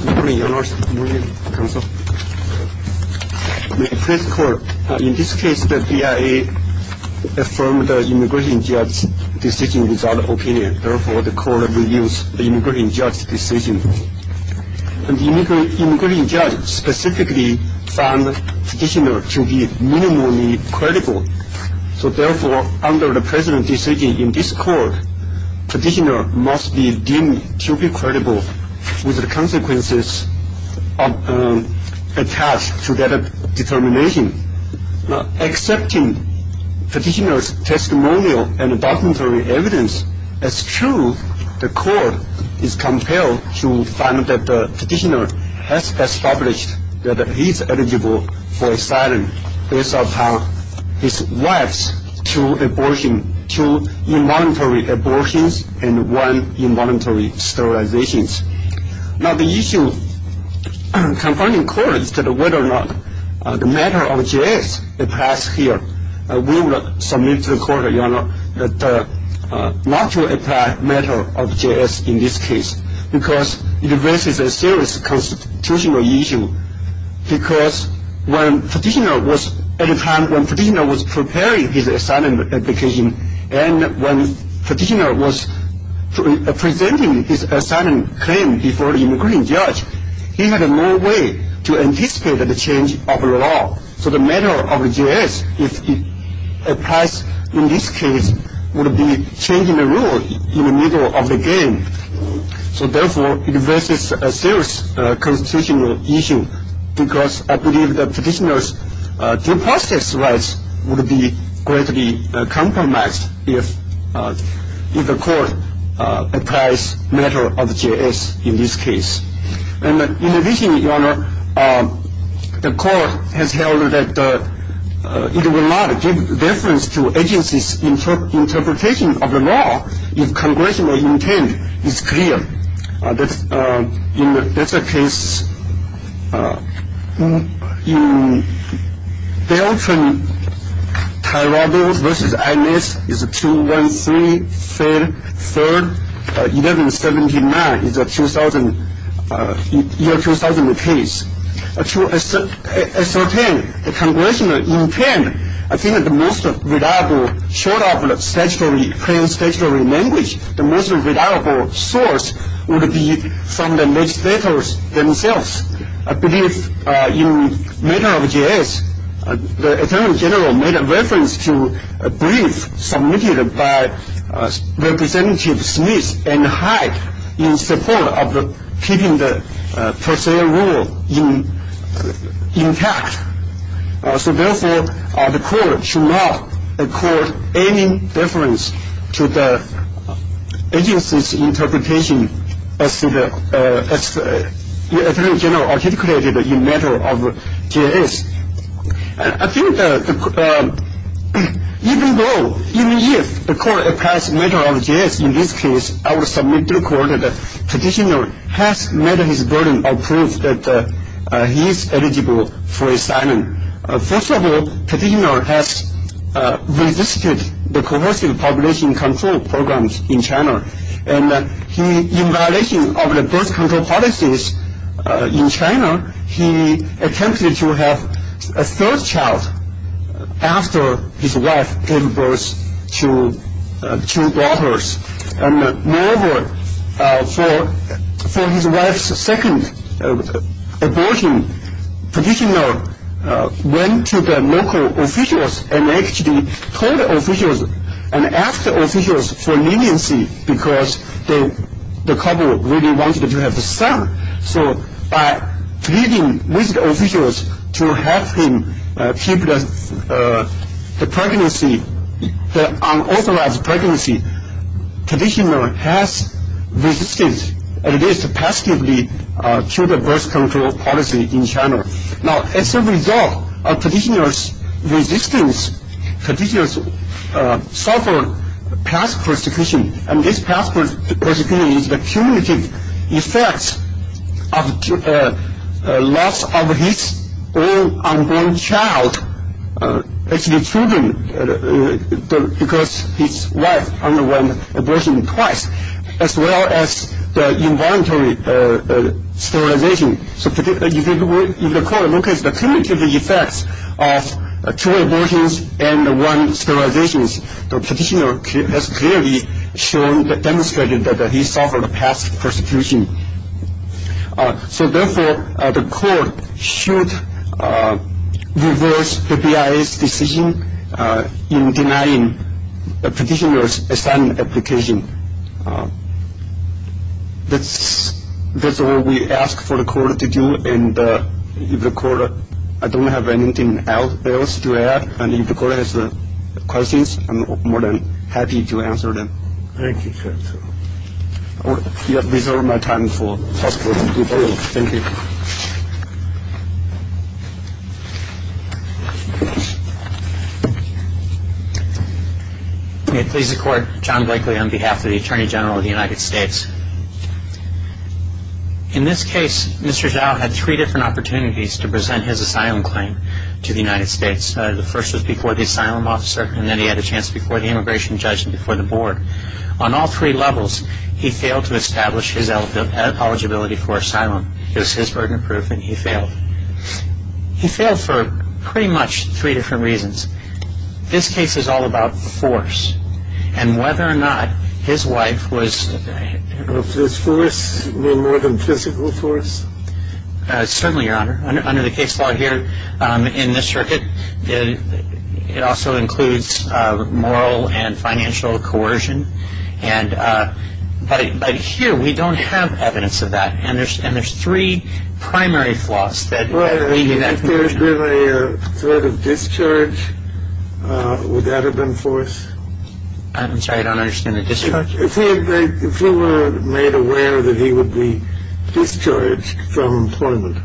In this case, the BIA affirmed the immigration judge's decision without an opinion. Therefore, the court reviews the immigration judge's decision. The immigration judge specifically found the petitioner to be minimally credible. Therefore, under the present decision in this court, the petitioner must be deemed to be credible with the consequences attached to that determination. Accepting the petitioner's testimonial and documentary evidence as true, the court is compelled to find that the petitioner has established that he is eligible for asylum based upon his wife's two involuntary abortions and one involuntary sterilization. Now, the issue confronting the court is whether or not the matter of J.S. applies here. We would submit to the court, Your Honor, not to apply the matter of J.S. in this case because it raises a serious constitutional issue. Because when the petitioner was preparing his asylum application and when the petitioner was presenting his asylum claim before the immigration judge, he had no way to anticipate the change of law. So the matter of J.S., if it applies in this case, would be changing the rule in the middle of the game. So therefore, it raises a serious constitutional issue because I believe the petitioner's due process rights would be greatly compromised if the court applies the matter of J.S. in this case. In addition, Your Honor, the court has held that it would not give deference to agencies' interpretation of the law if congressional intent is clear. That's a case in Beltran-Tirado versus Agnes is 213-3-1179. It's a year 2000 case. To ascertain the congressional intent, I think the most reliable, short of plain statutory language, the most reliable source would be from the legislators themselves. I believe in the matter of J.S., the attorney general made a reference to a brief submitted by Representative Smith and Hyde in support of keeping the per se rule intact. So therefore, the court should not accord any deference to the agency's interpretation as the attorney general articulated in the matter of J.S. I think even though, even if the court applies the matter of J.S. in this case, I would submit to the court that the petitioner has met his burden of proof that he is eligible for asylum. First of all, petitioner has resisted the coercive population control programs in China. And he, in violation of the birth control policies in China, he attempted to have a third child after his wife gave birth to two daughters. Moreover, for his wife's second abortion, petitioner went to the local officials and actually told officials and asked officials for leniency because the couple really wanted to have a son. So by pleading with officials to help him keep the pregnancy, the unauthorized pregnancy, petitioner has resisted, at least passively, to the birth control policy in China. Now, as a result of petitioner's resistance, petitioner suffered past persecution. And this past persecution is the cumulative effects of loss of his own unborn child, actually children, because his wife underwent abortion twice, as well as involuntary sterilization. So if the court looks at the cumulative effects of two abortions and one sterilization, the petitioner has clearly demonstrated that he suffered past persecution. So therefore, the court should reverse the BIA's decision in denying the petitioner's asylum application. And that's all we ask for the court to do. And if the court, I don't have anything else to add. And if the court has questions, I'm more than happy to answer them. Thank you, Judge. I will reserve my time for questions. Thank you. May it please the court, John Blakely on behalf of the Attorney General of the United States. In this case, Mr. Zhao had three different opportunities to present his asylum claim to the United States. The first was before the asylum officer, and then he had a chance before the immigration judge and before the board. On all three levels, he failed to establish his eligibility for asylum. It was his burden of proof, and he failed. He failed for pretty much three different reasons. This case is all about force. And whether or not his wife was... Was this force more than physical force? Certainly, Your Honor. Under the case law here in this circuit, it also includes moral and financial coercion. But here, we don't have evidence of that. And there's three primary flaws that lead to that. If there had been a threat of discharge, would that have been force? I'm sorry, I don't understand the discharge. If he were made aware that he would be discharged from employment,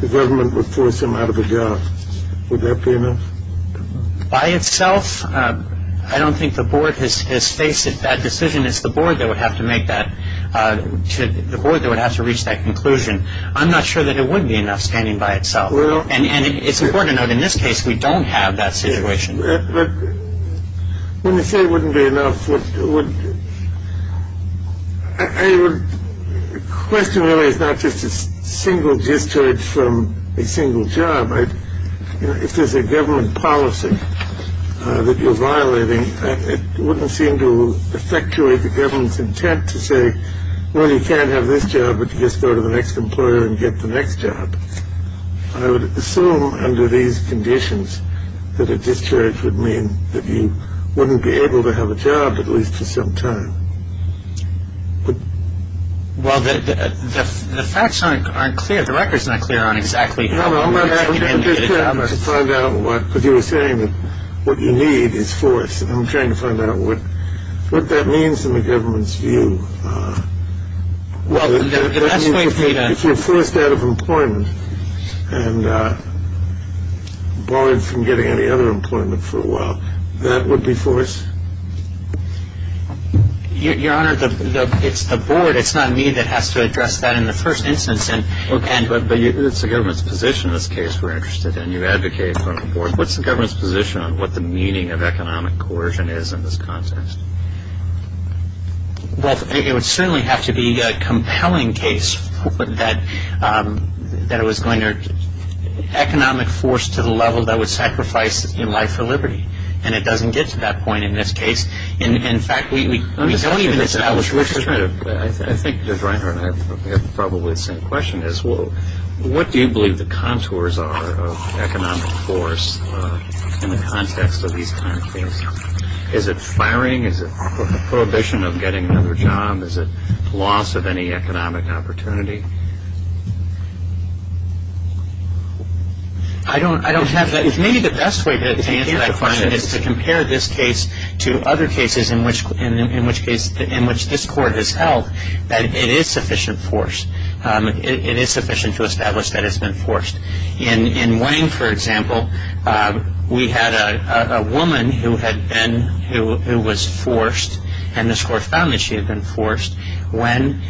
the government would force him out of a job. Would that be enough? By itself, I don't think the board has faced that decision. It's the board that would have to make that... The board that would have to reach that conclusion. I'm not sure that it would be enough standing by itself. And it's important to note, in this case, we don't have that situation. But when you say it wouldn't be enough, I would question whether it's not just a single discharge from a single job. If there's a government policy that you're violating, it wouldn't seem to effectuate the government's intent to say, well, you can't have this job, but you just go to the next employer and get the next job. I would assume, under these conditions, that a discharge would mean that you wouldn't be able to have a job, at least for some time. Well, the facts aren't clear. The record's not clear on exactly how... I'm trying to find out what... Because you were saying that what you need is force. I'm trying to find out what that means in the government's view. Well, the best way for you to... If you're forced out of employment and barred from getting any other employment for a while, that would be force? Your Honor, it's the board. It's not me that has to address that in the first instance. Okay, but it's the government's position in this case we're interested in. You advocate for the board. What's the government's position on what the meaning of economic coercion is in this context? Well, it would certainly have to be a compelling case that it was going to... Economic force to the level that would sacrifice your life for liberty. And it doesn't get to that point in this case. In fact, we don't even establish... I think that Reinhart and I have probably the same question. What do you believe the contours are of economic force in the context of these kind of things? Is it firing? Is it prohibition of getting another job? Is it loss of any economic opportunity? I don't have that. Maybe the best way to answer that question is to compare this case to other cases in which this court has held that it is sufficient force. It is sufficient to establish that it's been forced. In Wang, for example, we had a woman who was forced, and this court found that she had been forced, when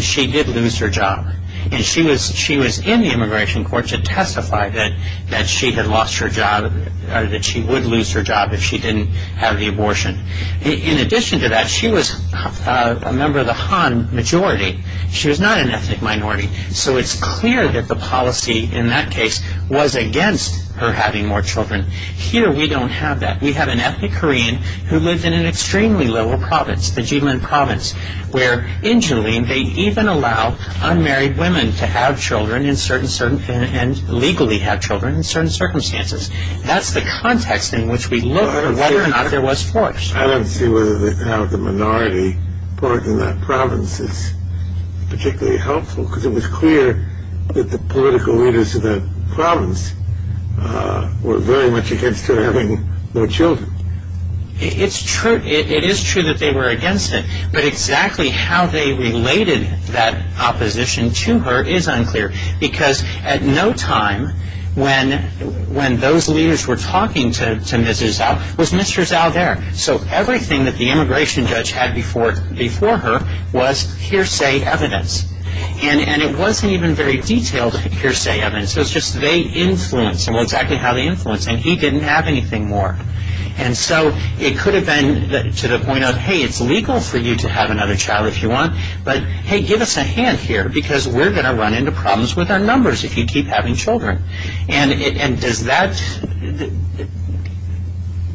she did lose her job. And she was in the immigration court to testify that she had lost her job or that she would lose her job if she didn't have the abortion. In addition to that, she was a member of the Han majority. She was not an ethnic minority. So it's clear that the policy in that case was against her having more children. Here, we don't have that. We have an ethnic Korean who lived in an extremely lower province, the Jilin province, where in Jilin they even allow unmarried women to have children and legally have children in certain circumstances. That's the context in which we look for whether or not there was force. I don't see whether they have the minority. I don't think the report in that province is particularly helpful because it was clear that the political leaders of that province were very much against her having more children. It is true that they were against it, but exactly how they related that opposition to her is unclear because at no time when those leaders were talking to Mrs. Zhao was Mr. Zhao there. So everything that the immigration judge had before her was hearsay evidence. And it wasn't even very detailed hearsay evidence. It was just they influenced, and well, exactly how they influenced, and he didn't have anything more. And so it could have been to the point of, hey, it's legal for you to have another child if you want, but hey, give us a hand here because we're going to run into problems with our numbers if you keep having children. And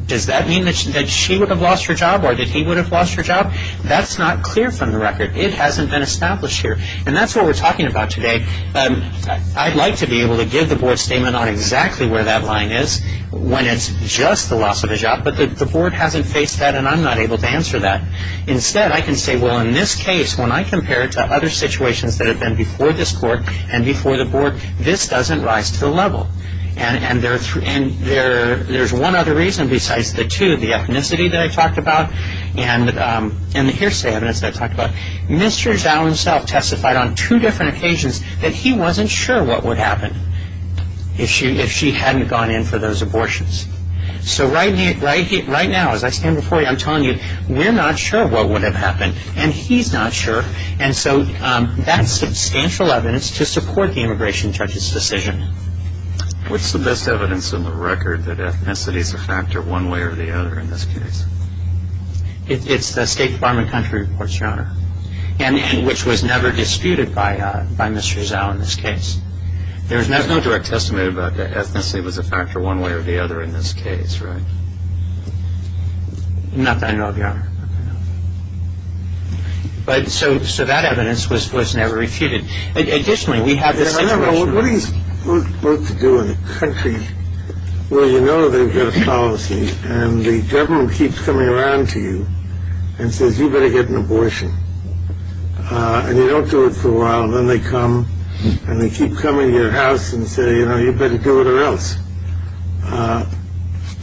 does that mean that she would have lost her job or that he would have lost her job? That's not clear from the record. It hasn't been established here, and that's what we're talking about today. I'd like to be able to give the board statement on exactly where that line is when it's just the loss of a job, but the board hasn't faced that, and I'm not able to answer that. Instead, I can say, well, in this case, when I compare it to other situations that have been before this court and before the board, this doesn't rise to the level. And there's one other reason besides the two, the ethnicity that I talked about and the hearsay evidence that I talked about. Mr. Zhao himself testified on two different occasions that he wasn't sure what would happen if she hadn't gone in for those abortions. So right now, as I stand before you, I'm telling you, we're not sure what would have happened, and he's not sure, and so that's substantial evidence to support the immigration judge's decision. What's the best evidence in the record that ethnicity is a factor one way or the other in this case? It's the State Department country reports, Your Honor, which was never disputed by Mr. Zhao in this case. There's no direct testimony about the ethnicity was a factor one way or the other in this case, right? Not that I know of, Your Honor. But so that evidence was never refuted. Additionally, we have this situation. Your Honor, what are you supposed to do in a country where you know they've got a policy and the government keeps coming around to you and says, you better get an abortion, and you don't do it for a while, and then they come and they keep coming to your house and say, you know, you better do it or else.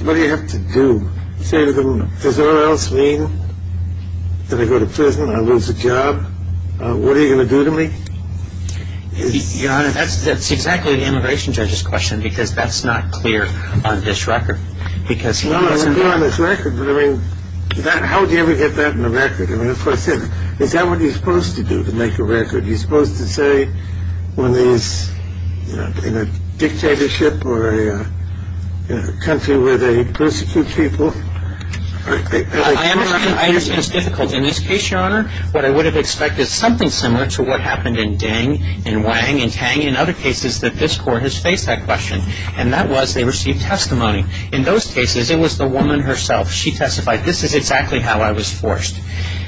What do you have to do? Say to them, does all else mean that I go to prison, I lose a job? What are you going to do to me? Your Honor, that's exactly the immigration judge's question, because that's not clear on this record, because he doesn't... Well, it's not on this record, but I mean, how would you ever get that in the record? I mean, of course, is that what you're supposed to do to make a record? Is that what you're supposed to say when there's, you know, in a dictatorship or a country where they persecute people? I understand it's difficult. In this case, Your Honor, what I would have expected, something similar to what happened in Deng and Wang and Tang and other cases that this Court has faced that question, and that was they received testimony. In those cases, it was the woman herself. She testified, this is exactly how I was forced.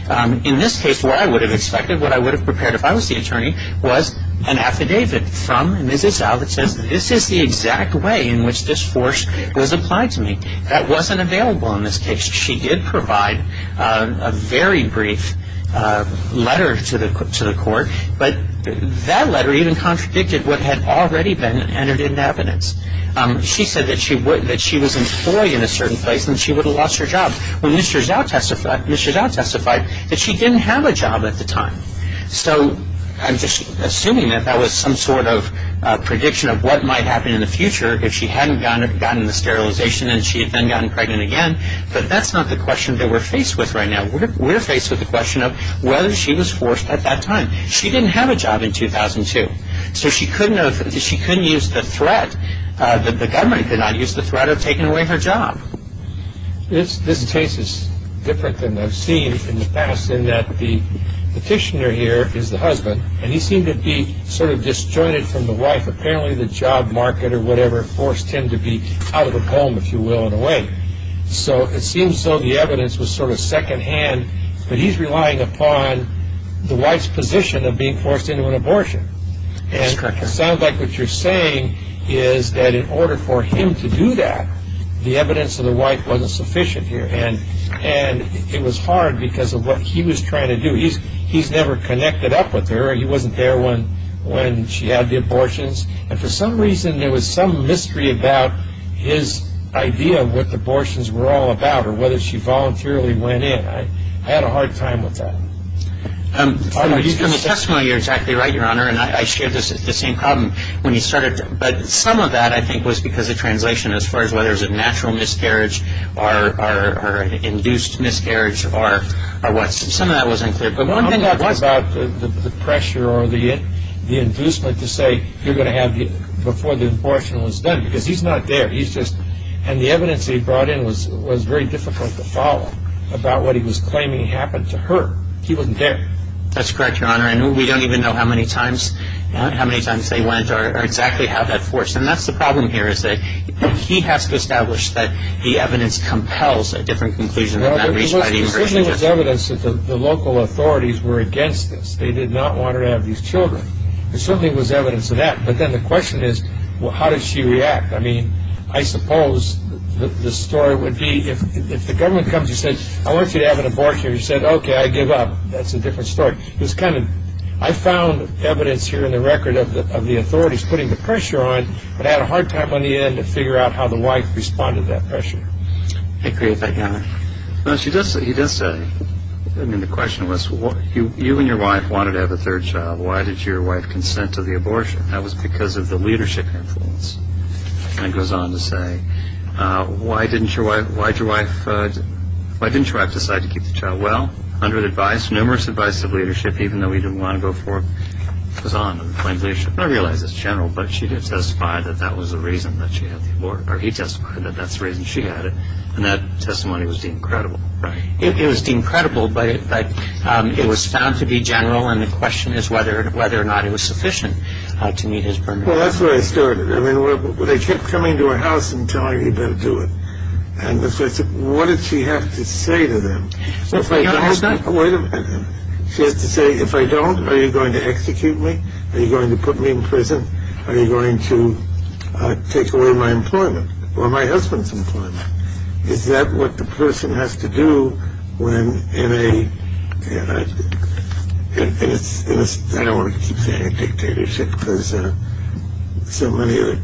In this case, what I would have expected, what I would have prepared if I was the attorney, was an affidavit from Mrs. Zhao that says, this is the exact way in which this force was applied to me. That wasn't available in this case. She did provide a very brief letter to the Court, but that letter even contradicted what had already been entered into evidence. She said that she was employed in a certain place and she would have lost her job. When Mrs. Zhao testified, Mrs. Zhao testified that she didn't have a job at the time. So I'm just assuming that that was some sort of prediction of what might happen in the future if she hadn't gotten the sterilization and she had then gotten pregnant again, but that's not the question that we're faced with right now. We're faced with the question of whether she was forced at that time. She didn't have a job in 2002. So she couldn't have, she couldn't use the threat, the government could not use the threat of taking away her job. This case is different than I've seen in the past in that the petitioner here is the husband, and he seemed to be sort of disjointed from the wife. Apparently the job market or whatever forced him to be out of the home, if you will, in a way. So it seems so the evidence was sort of secondhand, but he's relying upon the wife's position of being forced into an abortion. And it sounds like what you're saying is that in order for him to do that, the evidence of the wife wasn't sufficient here. And it was hard because of what he was trying to do. He's never connected up with her. He wasn't there when she had the abortions. And for some reason there was some mystery about his idea of what the abortions were all about or whether she voluntarily went in. I had a hard time with that. You're exactly right, Your Honor, and I shared the same problem when you started. But some of that, I think, was because of translation as far as whether it was a natural miscarriage or an induced miscarriage or what. Some of that was unclear. But one thing about the pressure or the inducement to say, you're going to have it before the abortion was done, because he's not there. And the evidence he brought in was very difficult to follow about what he was claiming happened to her. He wasn't there. That's correct, Your Honor. And we don't even know how many times they went or exactly how that forced. And that's the problem here is that he has to establish that the evidence compels a different conclusion than that reached by the infertility judge. Well, there certainly was evidence that the local authorities were against this. They did not want her to have these children. There certainly was evidence of that. But then the question is, how did she react? I mean, I suppose the story would be if the government comes and says, I want you to have an abortion, and you say, okay, I give up. That's a different story. I found evidence here in the record of the authorities putting the pressure on, but I had a hard time on the end to figure out how the wife responded to that pressure. I agree with that, Your Honor. He does say, I mean, the question was, you and your wife wanted to have a third child. Why did your wife consent to the abortion? That was because of the leadership influence. And he goes on to say, why didn't your wife decide to keep the child? Well, under the advice, numerous advice of leadership, even though he didn't want to go for it, was on to the point of leadership. I realize it's general, but she did testify that that was the reason that she had the abortion, or he testified that that's the reason she had it. And that testimony was deemed credible. It was deemed credible, but it was found to be general, and the question is whether or not it was sufficient to meet his permit. Well, that's where I started. I mean, they kept coming to her house and telling her, you better do it. And what did she have to say to them? She has to say, if I don't, are you going to execute me? Are you going to put me in prison? Are you going to take away my employment or my husband's employment? Is that what the person has to do when in a, I don't want to keep saying a dictatorship because so many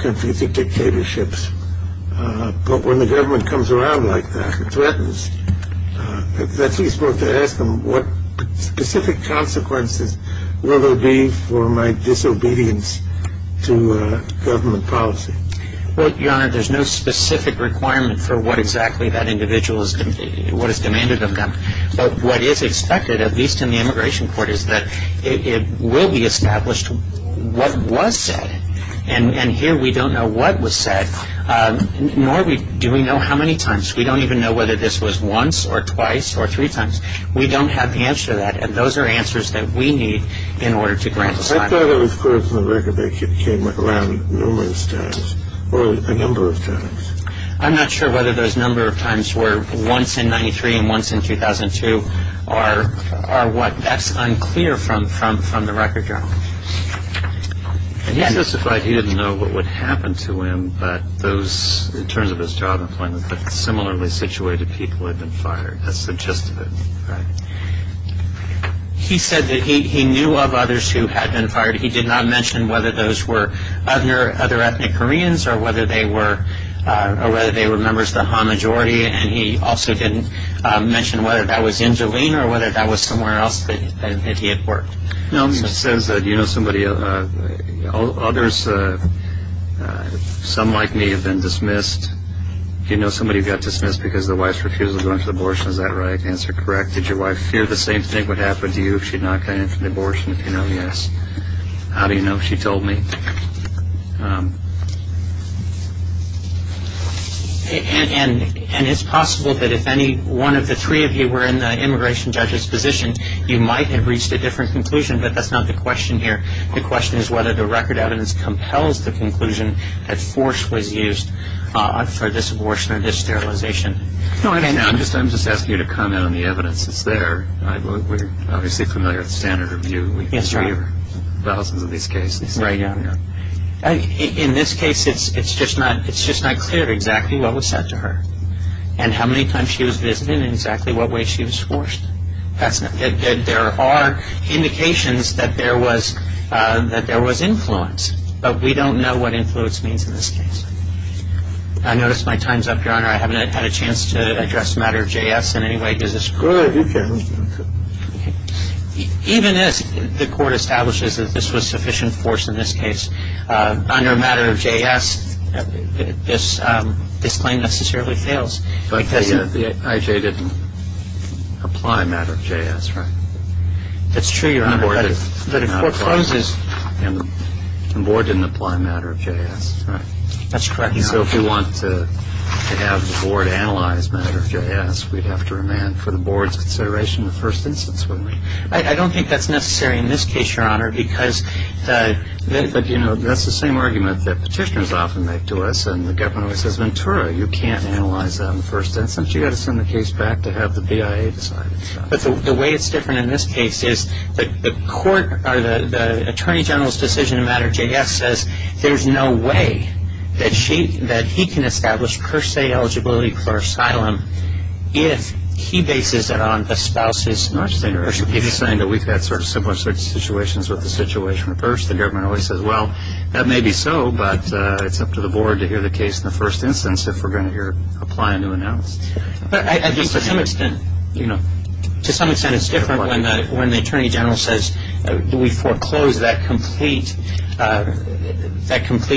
countries are dictatorships. But when the government comes around like that and threatens, that's who you're supposed to ask them what specific consequences will there be for my disobedience to government policy. Well, Your Honor, there's no specific requirement for what exactly that individual is, what is demanded of them. But what is expected, at least in the immigration court, is that it will be established what was said. And here we don't know what was said, nor do we know how many times. We don't even know whether this was once or twice or three times. We don't have the answer to that, and those are answers that we need in order to grant asylum. I thought it was clear from the record they came around numerous times or a number of times. I'm not sure whether those number of times were once in 1993 and once in 2002. That's unclear from the record, Your Honor. He specified he didn't know what would happen to him in terms of his job employment, but similarly situated people had been fired. That's the gist of it. He did not mention whether those were other ethnic Koreans or whether they were members of the Ha majority, and he also didn't mention whether that was in Jilin or whether that was somewhere else that he had worked. It says, do you know somebody else? Others, some like me, have been dismissed. Do you know somebody who got dismissed because their wife's refusal to go into abortion? Is that right? Answer correct. Did your wife fear the same thing would happen to you if she had not gone into an abortion? If you know, yes. How do you know? She told me. And it's possible that if any one of the three of you were in the immigration judge's position, you might have reached a different conclusion, but that's not the question here. The question is whether the record evidence compels the conclusion that force was used for this abortion or this sterilization. I'm just asking you to comment on the evidence that's there. We're obviously familiar with standard review. We can review thousands of these cases. Right, yeah. In this case, it's just not clear exactly what was said to her and how many times she was visited and exactly what way she was forced. There are indications that there was influence, but we don't know what influence means in this case. I notice my time's up, Your Honor. I haven't had a chance to address the matter of JS in any way. Is this correct? Even as the court establishes that this was sufficient force in this case under a matter of JS, this claim necessarily fails. But the IJ didn't apply a matter of JS, right? That's true, Your Honor. But it forecloses. The board didn't apply a matter of JS, right? That's correct, Your Honor. So if we want to have the board analyze a matter of JS, we'd have to remand for the board's consideration the first instance, wouldn't we? I don't think that's necessary in this case, Your Honor, because that's the same argument that petitioners often make to us. And the government always says, Ventura, you can't analyze that in the first instance. You've got to send the case back to have the BIA decide. But the way it's different in this case is the court or the attorney general's decision in a matter of JS says there's no way that he can establish per se eligibility for asylum if he bases it on a spouse's marriage. He's saying that we've had sort of similar situations with the situation at first. The government always says, well, that may be so, but it's up to the board to hear the case in the first instance if we're going to apply a new analysis. But I think to some extent, you know, to some extent it's different when the attorney general says we foreclose that complete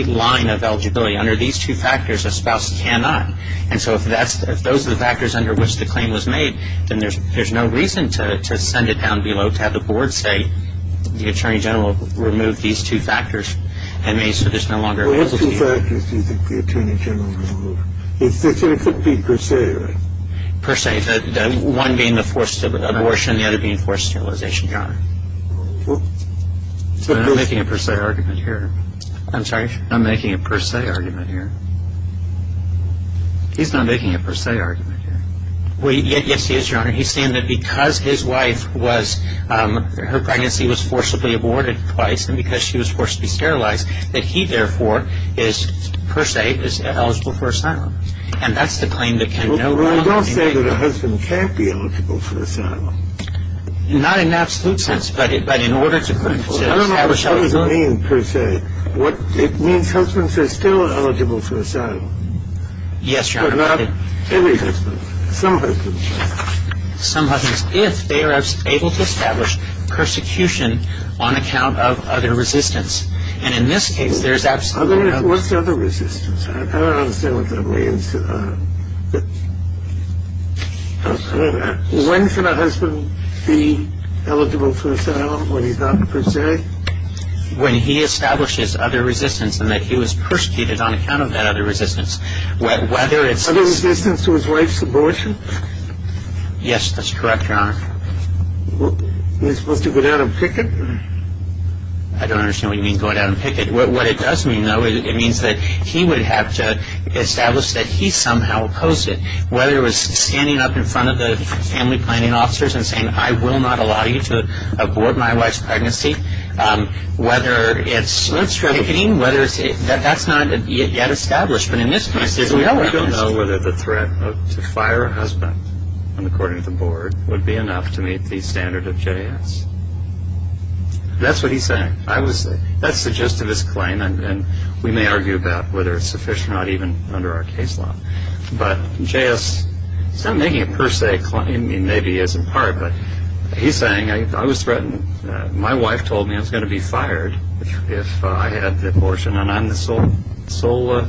line of eligibility. Under these two factors, a spouse cannot. And so if those are the factors under which the claim was made, then there's no reason to send it down below to have the board say the attorney general removed these two factors and made it so there's no longer a possibility. Well, what two factors do you think the attorney general removed? If it could be per se, right? Per se. One being the forced abortion, the other being forced sterilization, Your Honor. I'm not making a per se argument here. I'm sorry? I'm not making a per se argument here. He's not making a per se argument here. Yes, he is, Your Honor. He's saying that because his wife was, her pregnancy was forcibly aborted twice and because she was forced to be sterilized, that he, therefore, is per se, is eligible for asylum. And that's the claim that can no longer be made. Well, you don't say that a husband can't be eligible for asylum. Not in the absolute sense, but in order to establish eligibility. I don't know what that would mean per se. It means husbands are still eligible for asylum. Yes, Your Honor. But not every husband. Some husbands are. Some husbands, if they are able to establish persecution on account of other resistance. And in this case, there's absolutely no... What's other resistance? I don't understand what that means. When should a husband be eligible for asylum when he's not per se? When he establishes other resistance and that he was persecuted on account of that other resistance. Whether it's... Other resistance to his wife's abortion? Yes, that's correct, Your Honor. You're supposed to go down and picket? I don't understand what you mean, go down and picket. What it does mean, though, it means that he would have to establish that he somehow opposed it. Whether it was standing up in front of the family planning officers and saying, I will not allow you to abort my wife's pregnancy. Whether it's picketing. That's not yet established. But in this case... We don't know whether the threat to fire a husband, according to the board, would be enough to meet the standard of JS. That's what he's saying. That's the gist of his claim, and we may argue about whether it's sufficient or not, even under our case law. But JS is not making a per se claim. Maybe he is in part, but he's saying, I was threatened. My wife told me I was going to be fired if I had the abortion, and I'm the sole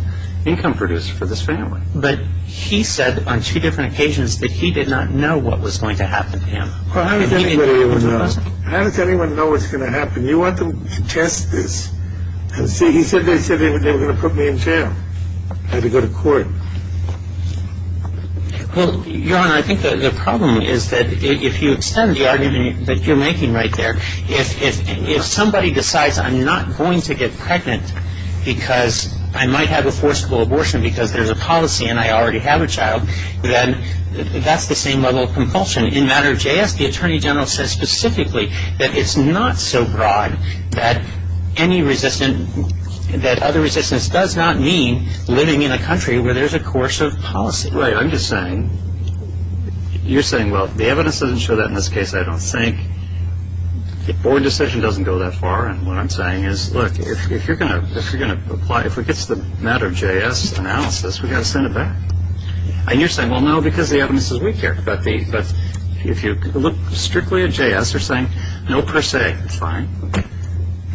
income producer for this family. But he said on two different occasions that he did not know what was going to happen to him. Well, how does anybody know? How does anyone know what's going to happen? You want to test this. He said they were going to put me in jail. I had to go to court. Well, Your Honor, I think the problem is that if you extend the argument that you're making right there, if somebody decides I'm not going to get pregnant because I might have a forcible abortion because there's a policy and I already have a child, then that's the same level of compulsion. In matter of JS, the attorney general says specifically that it's not so broad that any resistance, that other resistance does not mean living in a country where there's a course of policy. Right. I'm just saying, you're saying, well, the evidence doesn't show that in this case. I don't think the board decision doesn't go that far. And what I'm saying is, look, if you're going to apply, if it gets to the matter of JS analysis, we've got to send it back. And you're saying, well, no, because the evidence is weak here. But if you look strictly at JS, they're saying no per se. It's fine.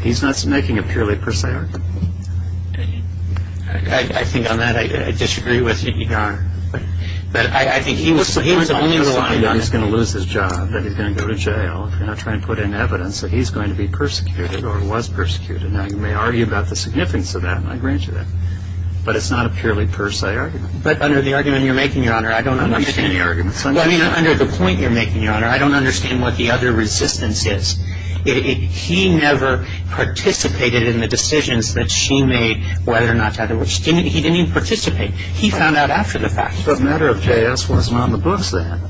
He's not making a purely per se argument. I think on that, I disagree with you, Your Honor. But I think he was the only one. He's going to lose his job, that he's going to go to jail, if you're not trying to put in evidence that he's going to be persecuted or was persecuted. Now, you may argue about the significance of that, and I grant you that. But it's not a purely per se argument. But under the argument you're making, Your Honor, I don't understand. I'm not making any arguments. Well, I mean, under the point you're making, Your Honor, I don't understand what the other resistance is. He never participated in the decisions that she made, whether or not to have the words. He didn't even participate. He found out after the fact. The matter of JS wasn't on the books then.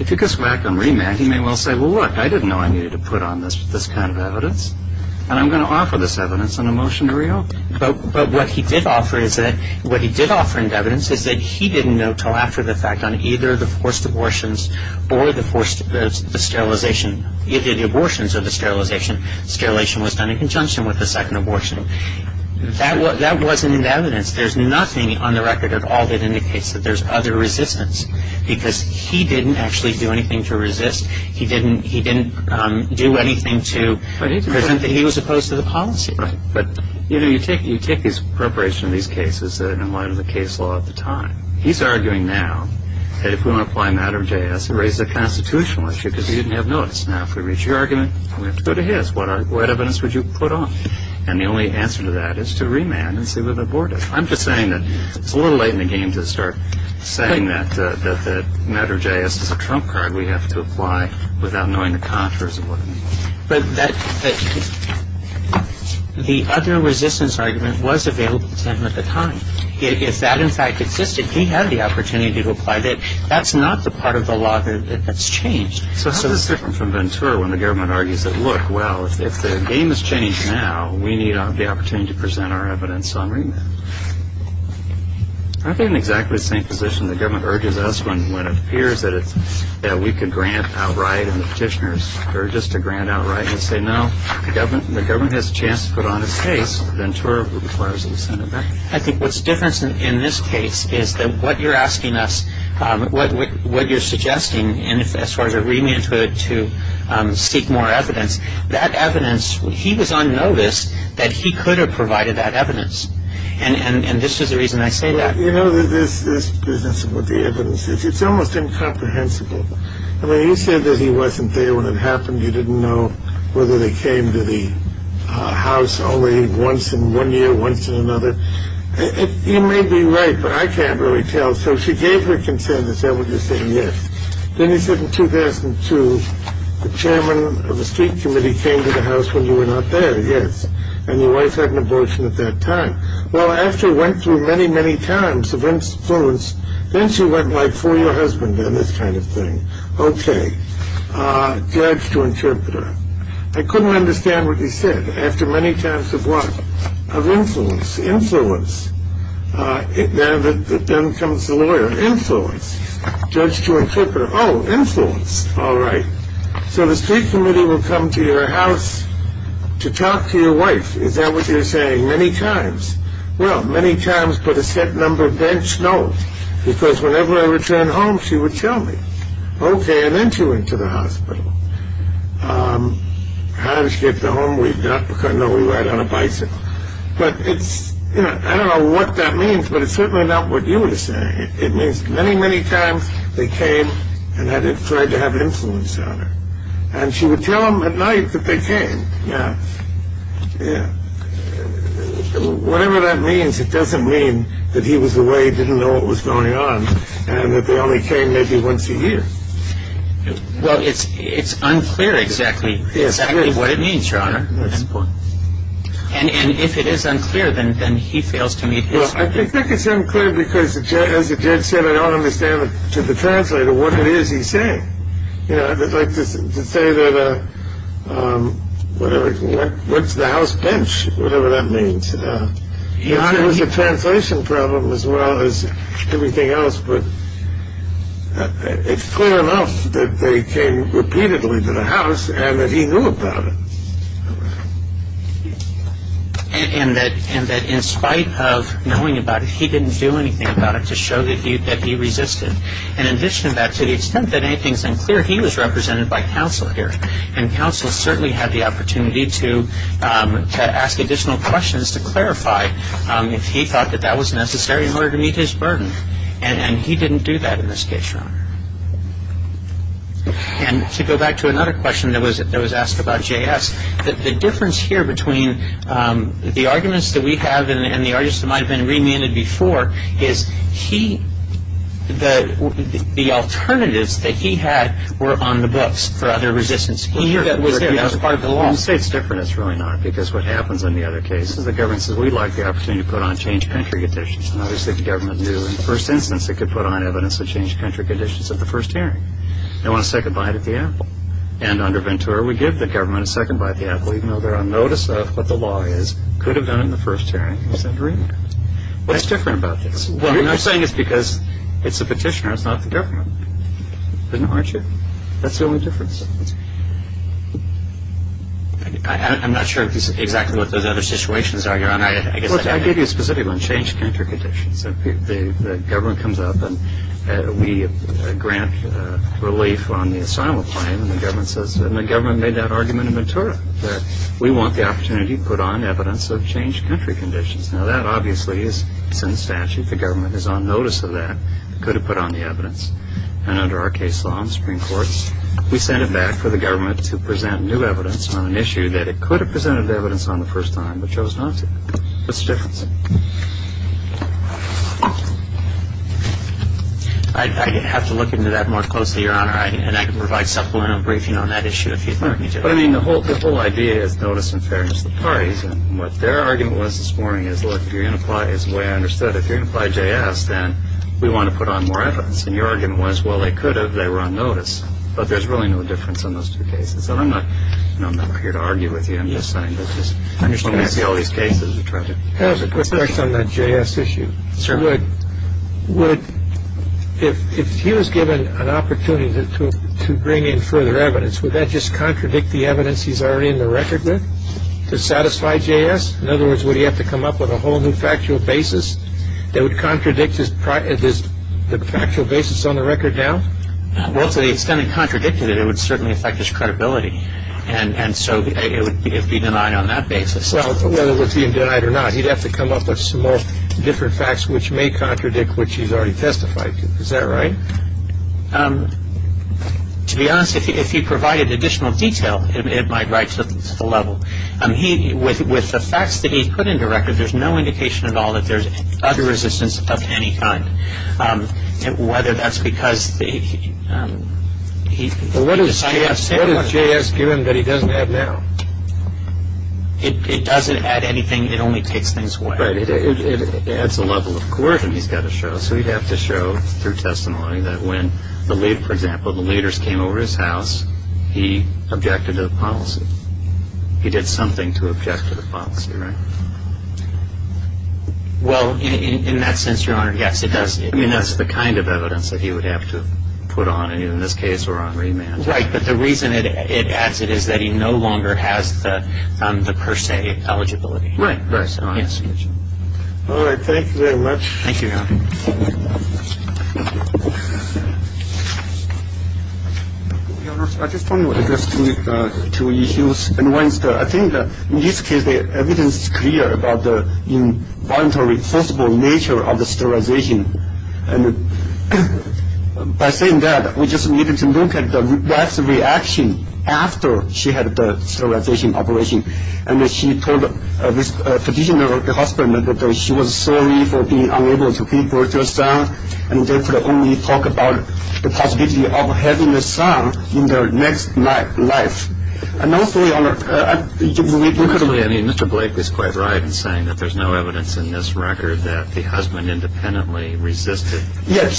If you could smack him, remand him, he may well say, well, look, I didn't know I needed to put on this kind of evidence, and I'm going to offer this evidence on a motion to reopen. But what he did offer is that he didn't know until after the fact on either the forced abortions or the sterilization. Either the abortions or the sterilization. Sterilization was done in conjunction with the second abortion. That wasn't in the evidence. There's nothing on the record at all that indicates that there's other resistance, because he didn't actually do anything to resist. He didn't do anything to present that he was opposed to the policy. Right. But, you know, you take his preparation of these cases in light of the case law at the time. He's arguing now that if we want to apply a matter of JS, it raises a constitutional issue because he didn't have notice. Now, if we reach your argument, we have to go to his. What evidence would you put on? And the only answer to that is to remand and see whether to abort it. I'm just saying that it's a little late in the game to start saying that matter of JS is a trump card we have to apply without knowing the contours of what it means. But the other resistance argument was available to him at the time. If that, in fact, existed, he had the opportunity to apply that. That's not the part of the law that's changed. So it's different from Ventura when the government argues that, look, well, if the game has changed now, we need the opportunity to present our evidence on remand. Aren't they in exactly the same position the government urges us when it appears that we could grant outright and the petitioners are just to grant outright and say, no, the government has a chance to put on its case. Ventura requires a listening event. I think what's different in this case is that what you're asking us, what you're suggesting as far as a remand to seek more evidence, that evidence, he was on notice that he could have provided that evidence. And this is the reason I say that. You know, this business of what the evidence is, it's almost incomprehensible. I mean, you said that he wasn't there when it happened. You didn't know whether they came to the house only once in one year, once in another. You may be right, but I can't really tell. So she gave her consent. Is that what you're saying? Yes. Then he said in 2002, the chairman of the street committee came to the house when you were not there. Yes. And your wife had an abortion at that time. Well, after it went through many, many times of influence, then she went by for your husband and this kind of thing. Okay. Judge to interpreter. I couldn't understand what he said. After many times of what? Of influence. Influence. Then comes the lawyer. Influence. Judge to interpreter. Oh, influence. All right. So the street committee will come to your house to talk to your wife. Is that what you're saying? Many times. Well, many times, but a set number bench? No, because whenever I returned home, she would tell me. Okay, and then she went to the hospital. How did she get the home we got? Because I know we ride on a bicycle. But it's, you know, I don't know what that means, but it's certainly not what you are saying. It means many, many times they came and tried to have influence on her. And she would tell them at night that they came. Yes. Yes. Whatever that means, it doesn't mean that he was the way he didn't know what was going on and that they only came maybe once a year. Well, it's unclear exactly what it means, Your Honor. And if it is unclear, then he fails to meet his duty. Well, I think it's unclear because, as the judge said, I don't understand to the translator what it is he's saying. You know, I'd like to say that whatever, what's the house bench, whatever that means. Your Honor. It was a translation problem as well as everything else, but it's clear enough that they came repeatedly to the house and that he knew about it. And that in spite of knowing about it, he didn't do anything about it to show that he resisted. And in addition to that, to the extent that anything is unclear, he was represented by counsel here. And counsel certainly had the opportunity to ask additional questions to clarify if he thought that that was necessary in order to meet his burden. And he didn't do that in this case, Your Honor. And to go back to another question that was asked about J.S., the difference here between the arguments that we have and the arguments that might have been remanded before is he, the alternatives that he had were on the books for other resistance. He knew that was there. That was part of the law. When you say it's different, it's really not. Because what happens in the other cases, the government says, we'd like the opportunity to put on change of country conditions. And obviously the government knew in the first instance it could put on evidence of change of country conditions at the first hearing. They want a second bite at the apple. And under Ventura, we give the government a second bite at the apple, even though they're on notice of what the law is. Could have done it in the first hearing. What's different about this? What I'm saying is because it's the petitioner, it's not the government. Isn't it, aren't you? That's the only difference. I'm not sure exactly what those other situations are, Your Honor. I gave you a specific one, change of country conditions. The government comes up and we grant relief on the asylum claim. And the government made that argument in Ventura, that we want the opportunity to put on evidence of change of country conditions. Now, that obviously is in statute. The government is on notice of that. Could have put on the evidence. And under our case law in the Supreme Court, we send it back for the government to present new evidence on an issue that it could have presented the evidence on the first time but chose not to. I'd have to look into that more closely, Your Honor. And I can provide supplemental briefing on that issue if you'd like me to. But, I mean, the whole idea is notice and fairness of the parties. And what their argument was this morning is, look, if you're going to apply, as the way I understood it, if you're going to apply JS, then we want to put on more evidence. And your argument was, well, they could have. They were on notice. But there's really no difference in those two cases. And I'm not here to argue with you. I'm just saying that just understanding all these cases. I have a question on that JS issue. If he was given an opportunity to bring in further evidence, would that just contradict the evidence he's already in the record with to satisfy JS? In other words, would he have to come up with a whole new factual basis that would contradict the factual basis on the record now? Well, to the extent it contradicted it, it would certainly affect his credibility. And so it would be denied on that basis. Well, whether it would be denied or not, he'd have to come up with some more different facts, which may contradict what he's already testified to. Is that right? To be honest, if he provided additional detail, it might rise to the level. With the facts that he put in the record, there's no indication at all that there's other resistance of any kind. Whether that's because he decided to have similar ones. It doesn't add anything. It only takes things away. Right. It adds a level of coercion he's got to show. So he'd have to show through testimony that when, for example, the leaders came over his house, he objected to the policy. He did something to object to the policy, right? Well, in that sense, Your Honor, yes, it does. I mean, that's the kind of evidence that he would have to put on. And in this case, we're on remand. Right. But the reason it adds it is that he no longer has the per se eligibility. Right, right. Yes. All right. Thank you very much. Thank you, Your Honor. Your Honor, I just want to address two issues. And one is that I think in this case, the evidence is clear about the involuntary, forcible nature of the sterilization. And by saying that, we just needed to look at the wife's reaction after she had the sterilization operation. And she told a petitioner at the hospital that she was sorry for being unable to give birth to a son, and they could only talk about the possibility of having a son in their next life. And also, Your Honor, I believe you could... Yes,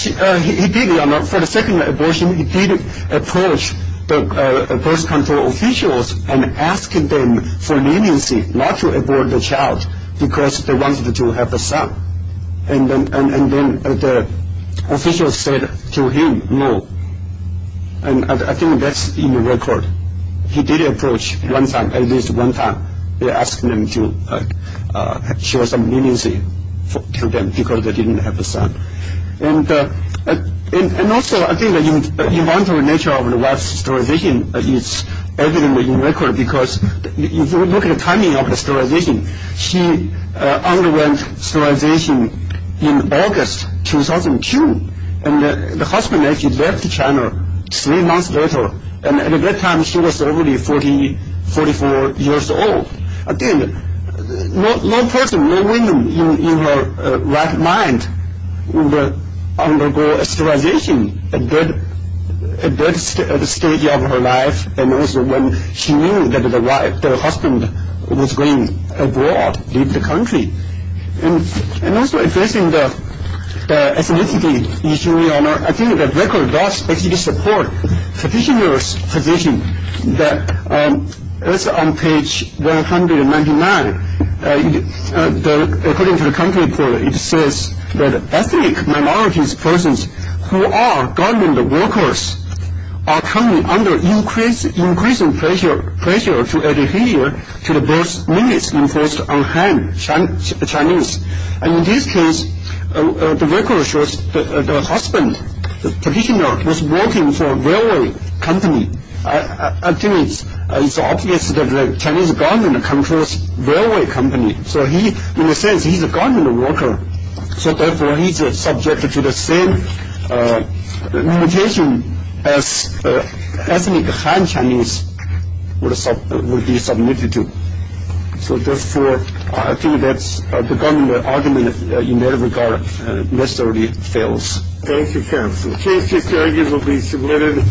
he did, Your Honor. For the second abortion, he did approach the birth control officials and ask them for leniency not to abort the child because they wanted to have a son. And then the officials said to him, no. And I think that's in the record. He did approach one time, at least one time, they asked him to show some leniency to them because they didn't have a son. And also, I think the involuntary nature of the wife's sterilization is evident in the record because if you look at the timing of the sterilization, she underwent sterilization in August 2002, and the husband actually left China three months later. And at that time, she was already 44 years old. Again, no person, no woman in her right mind would undergo sterilization at that stage of her life and also when she knew that the husband was going abroad, leave the country. And also, addressing the ethnicity issue, Your Honor, I think the record does actually support the petitioner's position that is on page 199. According to the country report, it says that ethnic minorities persons who are government workers are coming under increasing pressure to adhere to the birth limits imposed on Han Chinese. And in this case, the record shows the husband, the petitioner, was working for a railway company. I think it's obvious that the Chinese government controls railway company. So he, in a sense, he's a government worker. So therefore, he's subjected to the same limitation as ethnic Han Chinese would be submitted to. So therefore, I think that's the argument in that regard. And it necessarily fails. Thank you, counsel. The case is arguably submitted.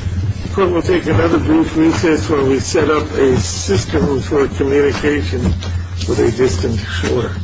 We'll take another brief recess where we set up a system for communication with a distant shore.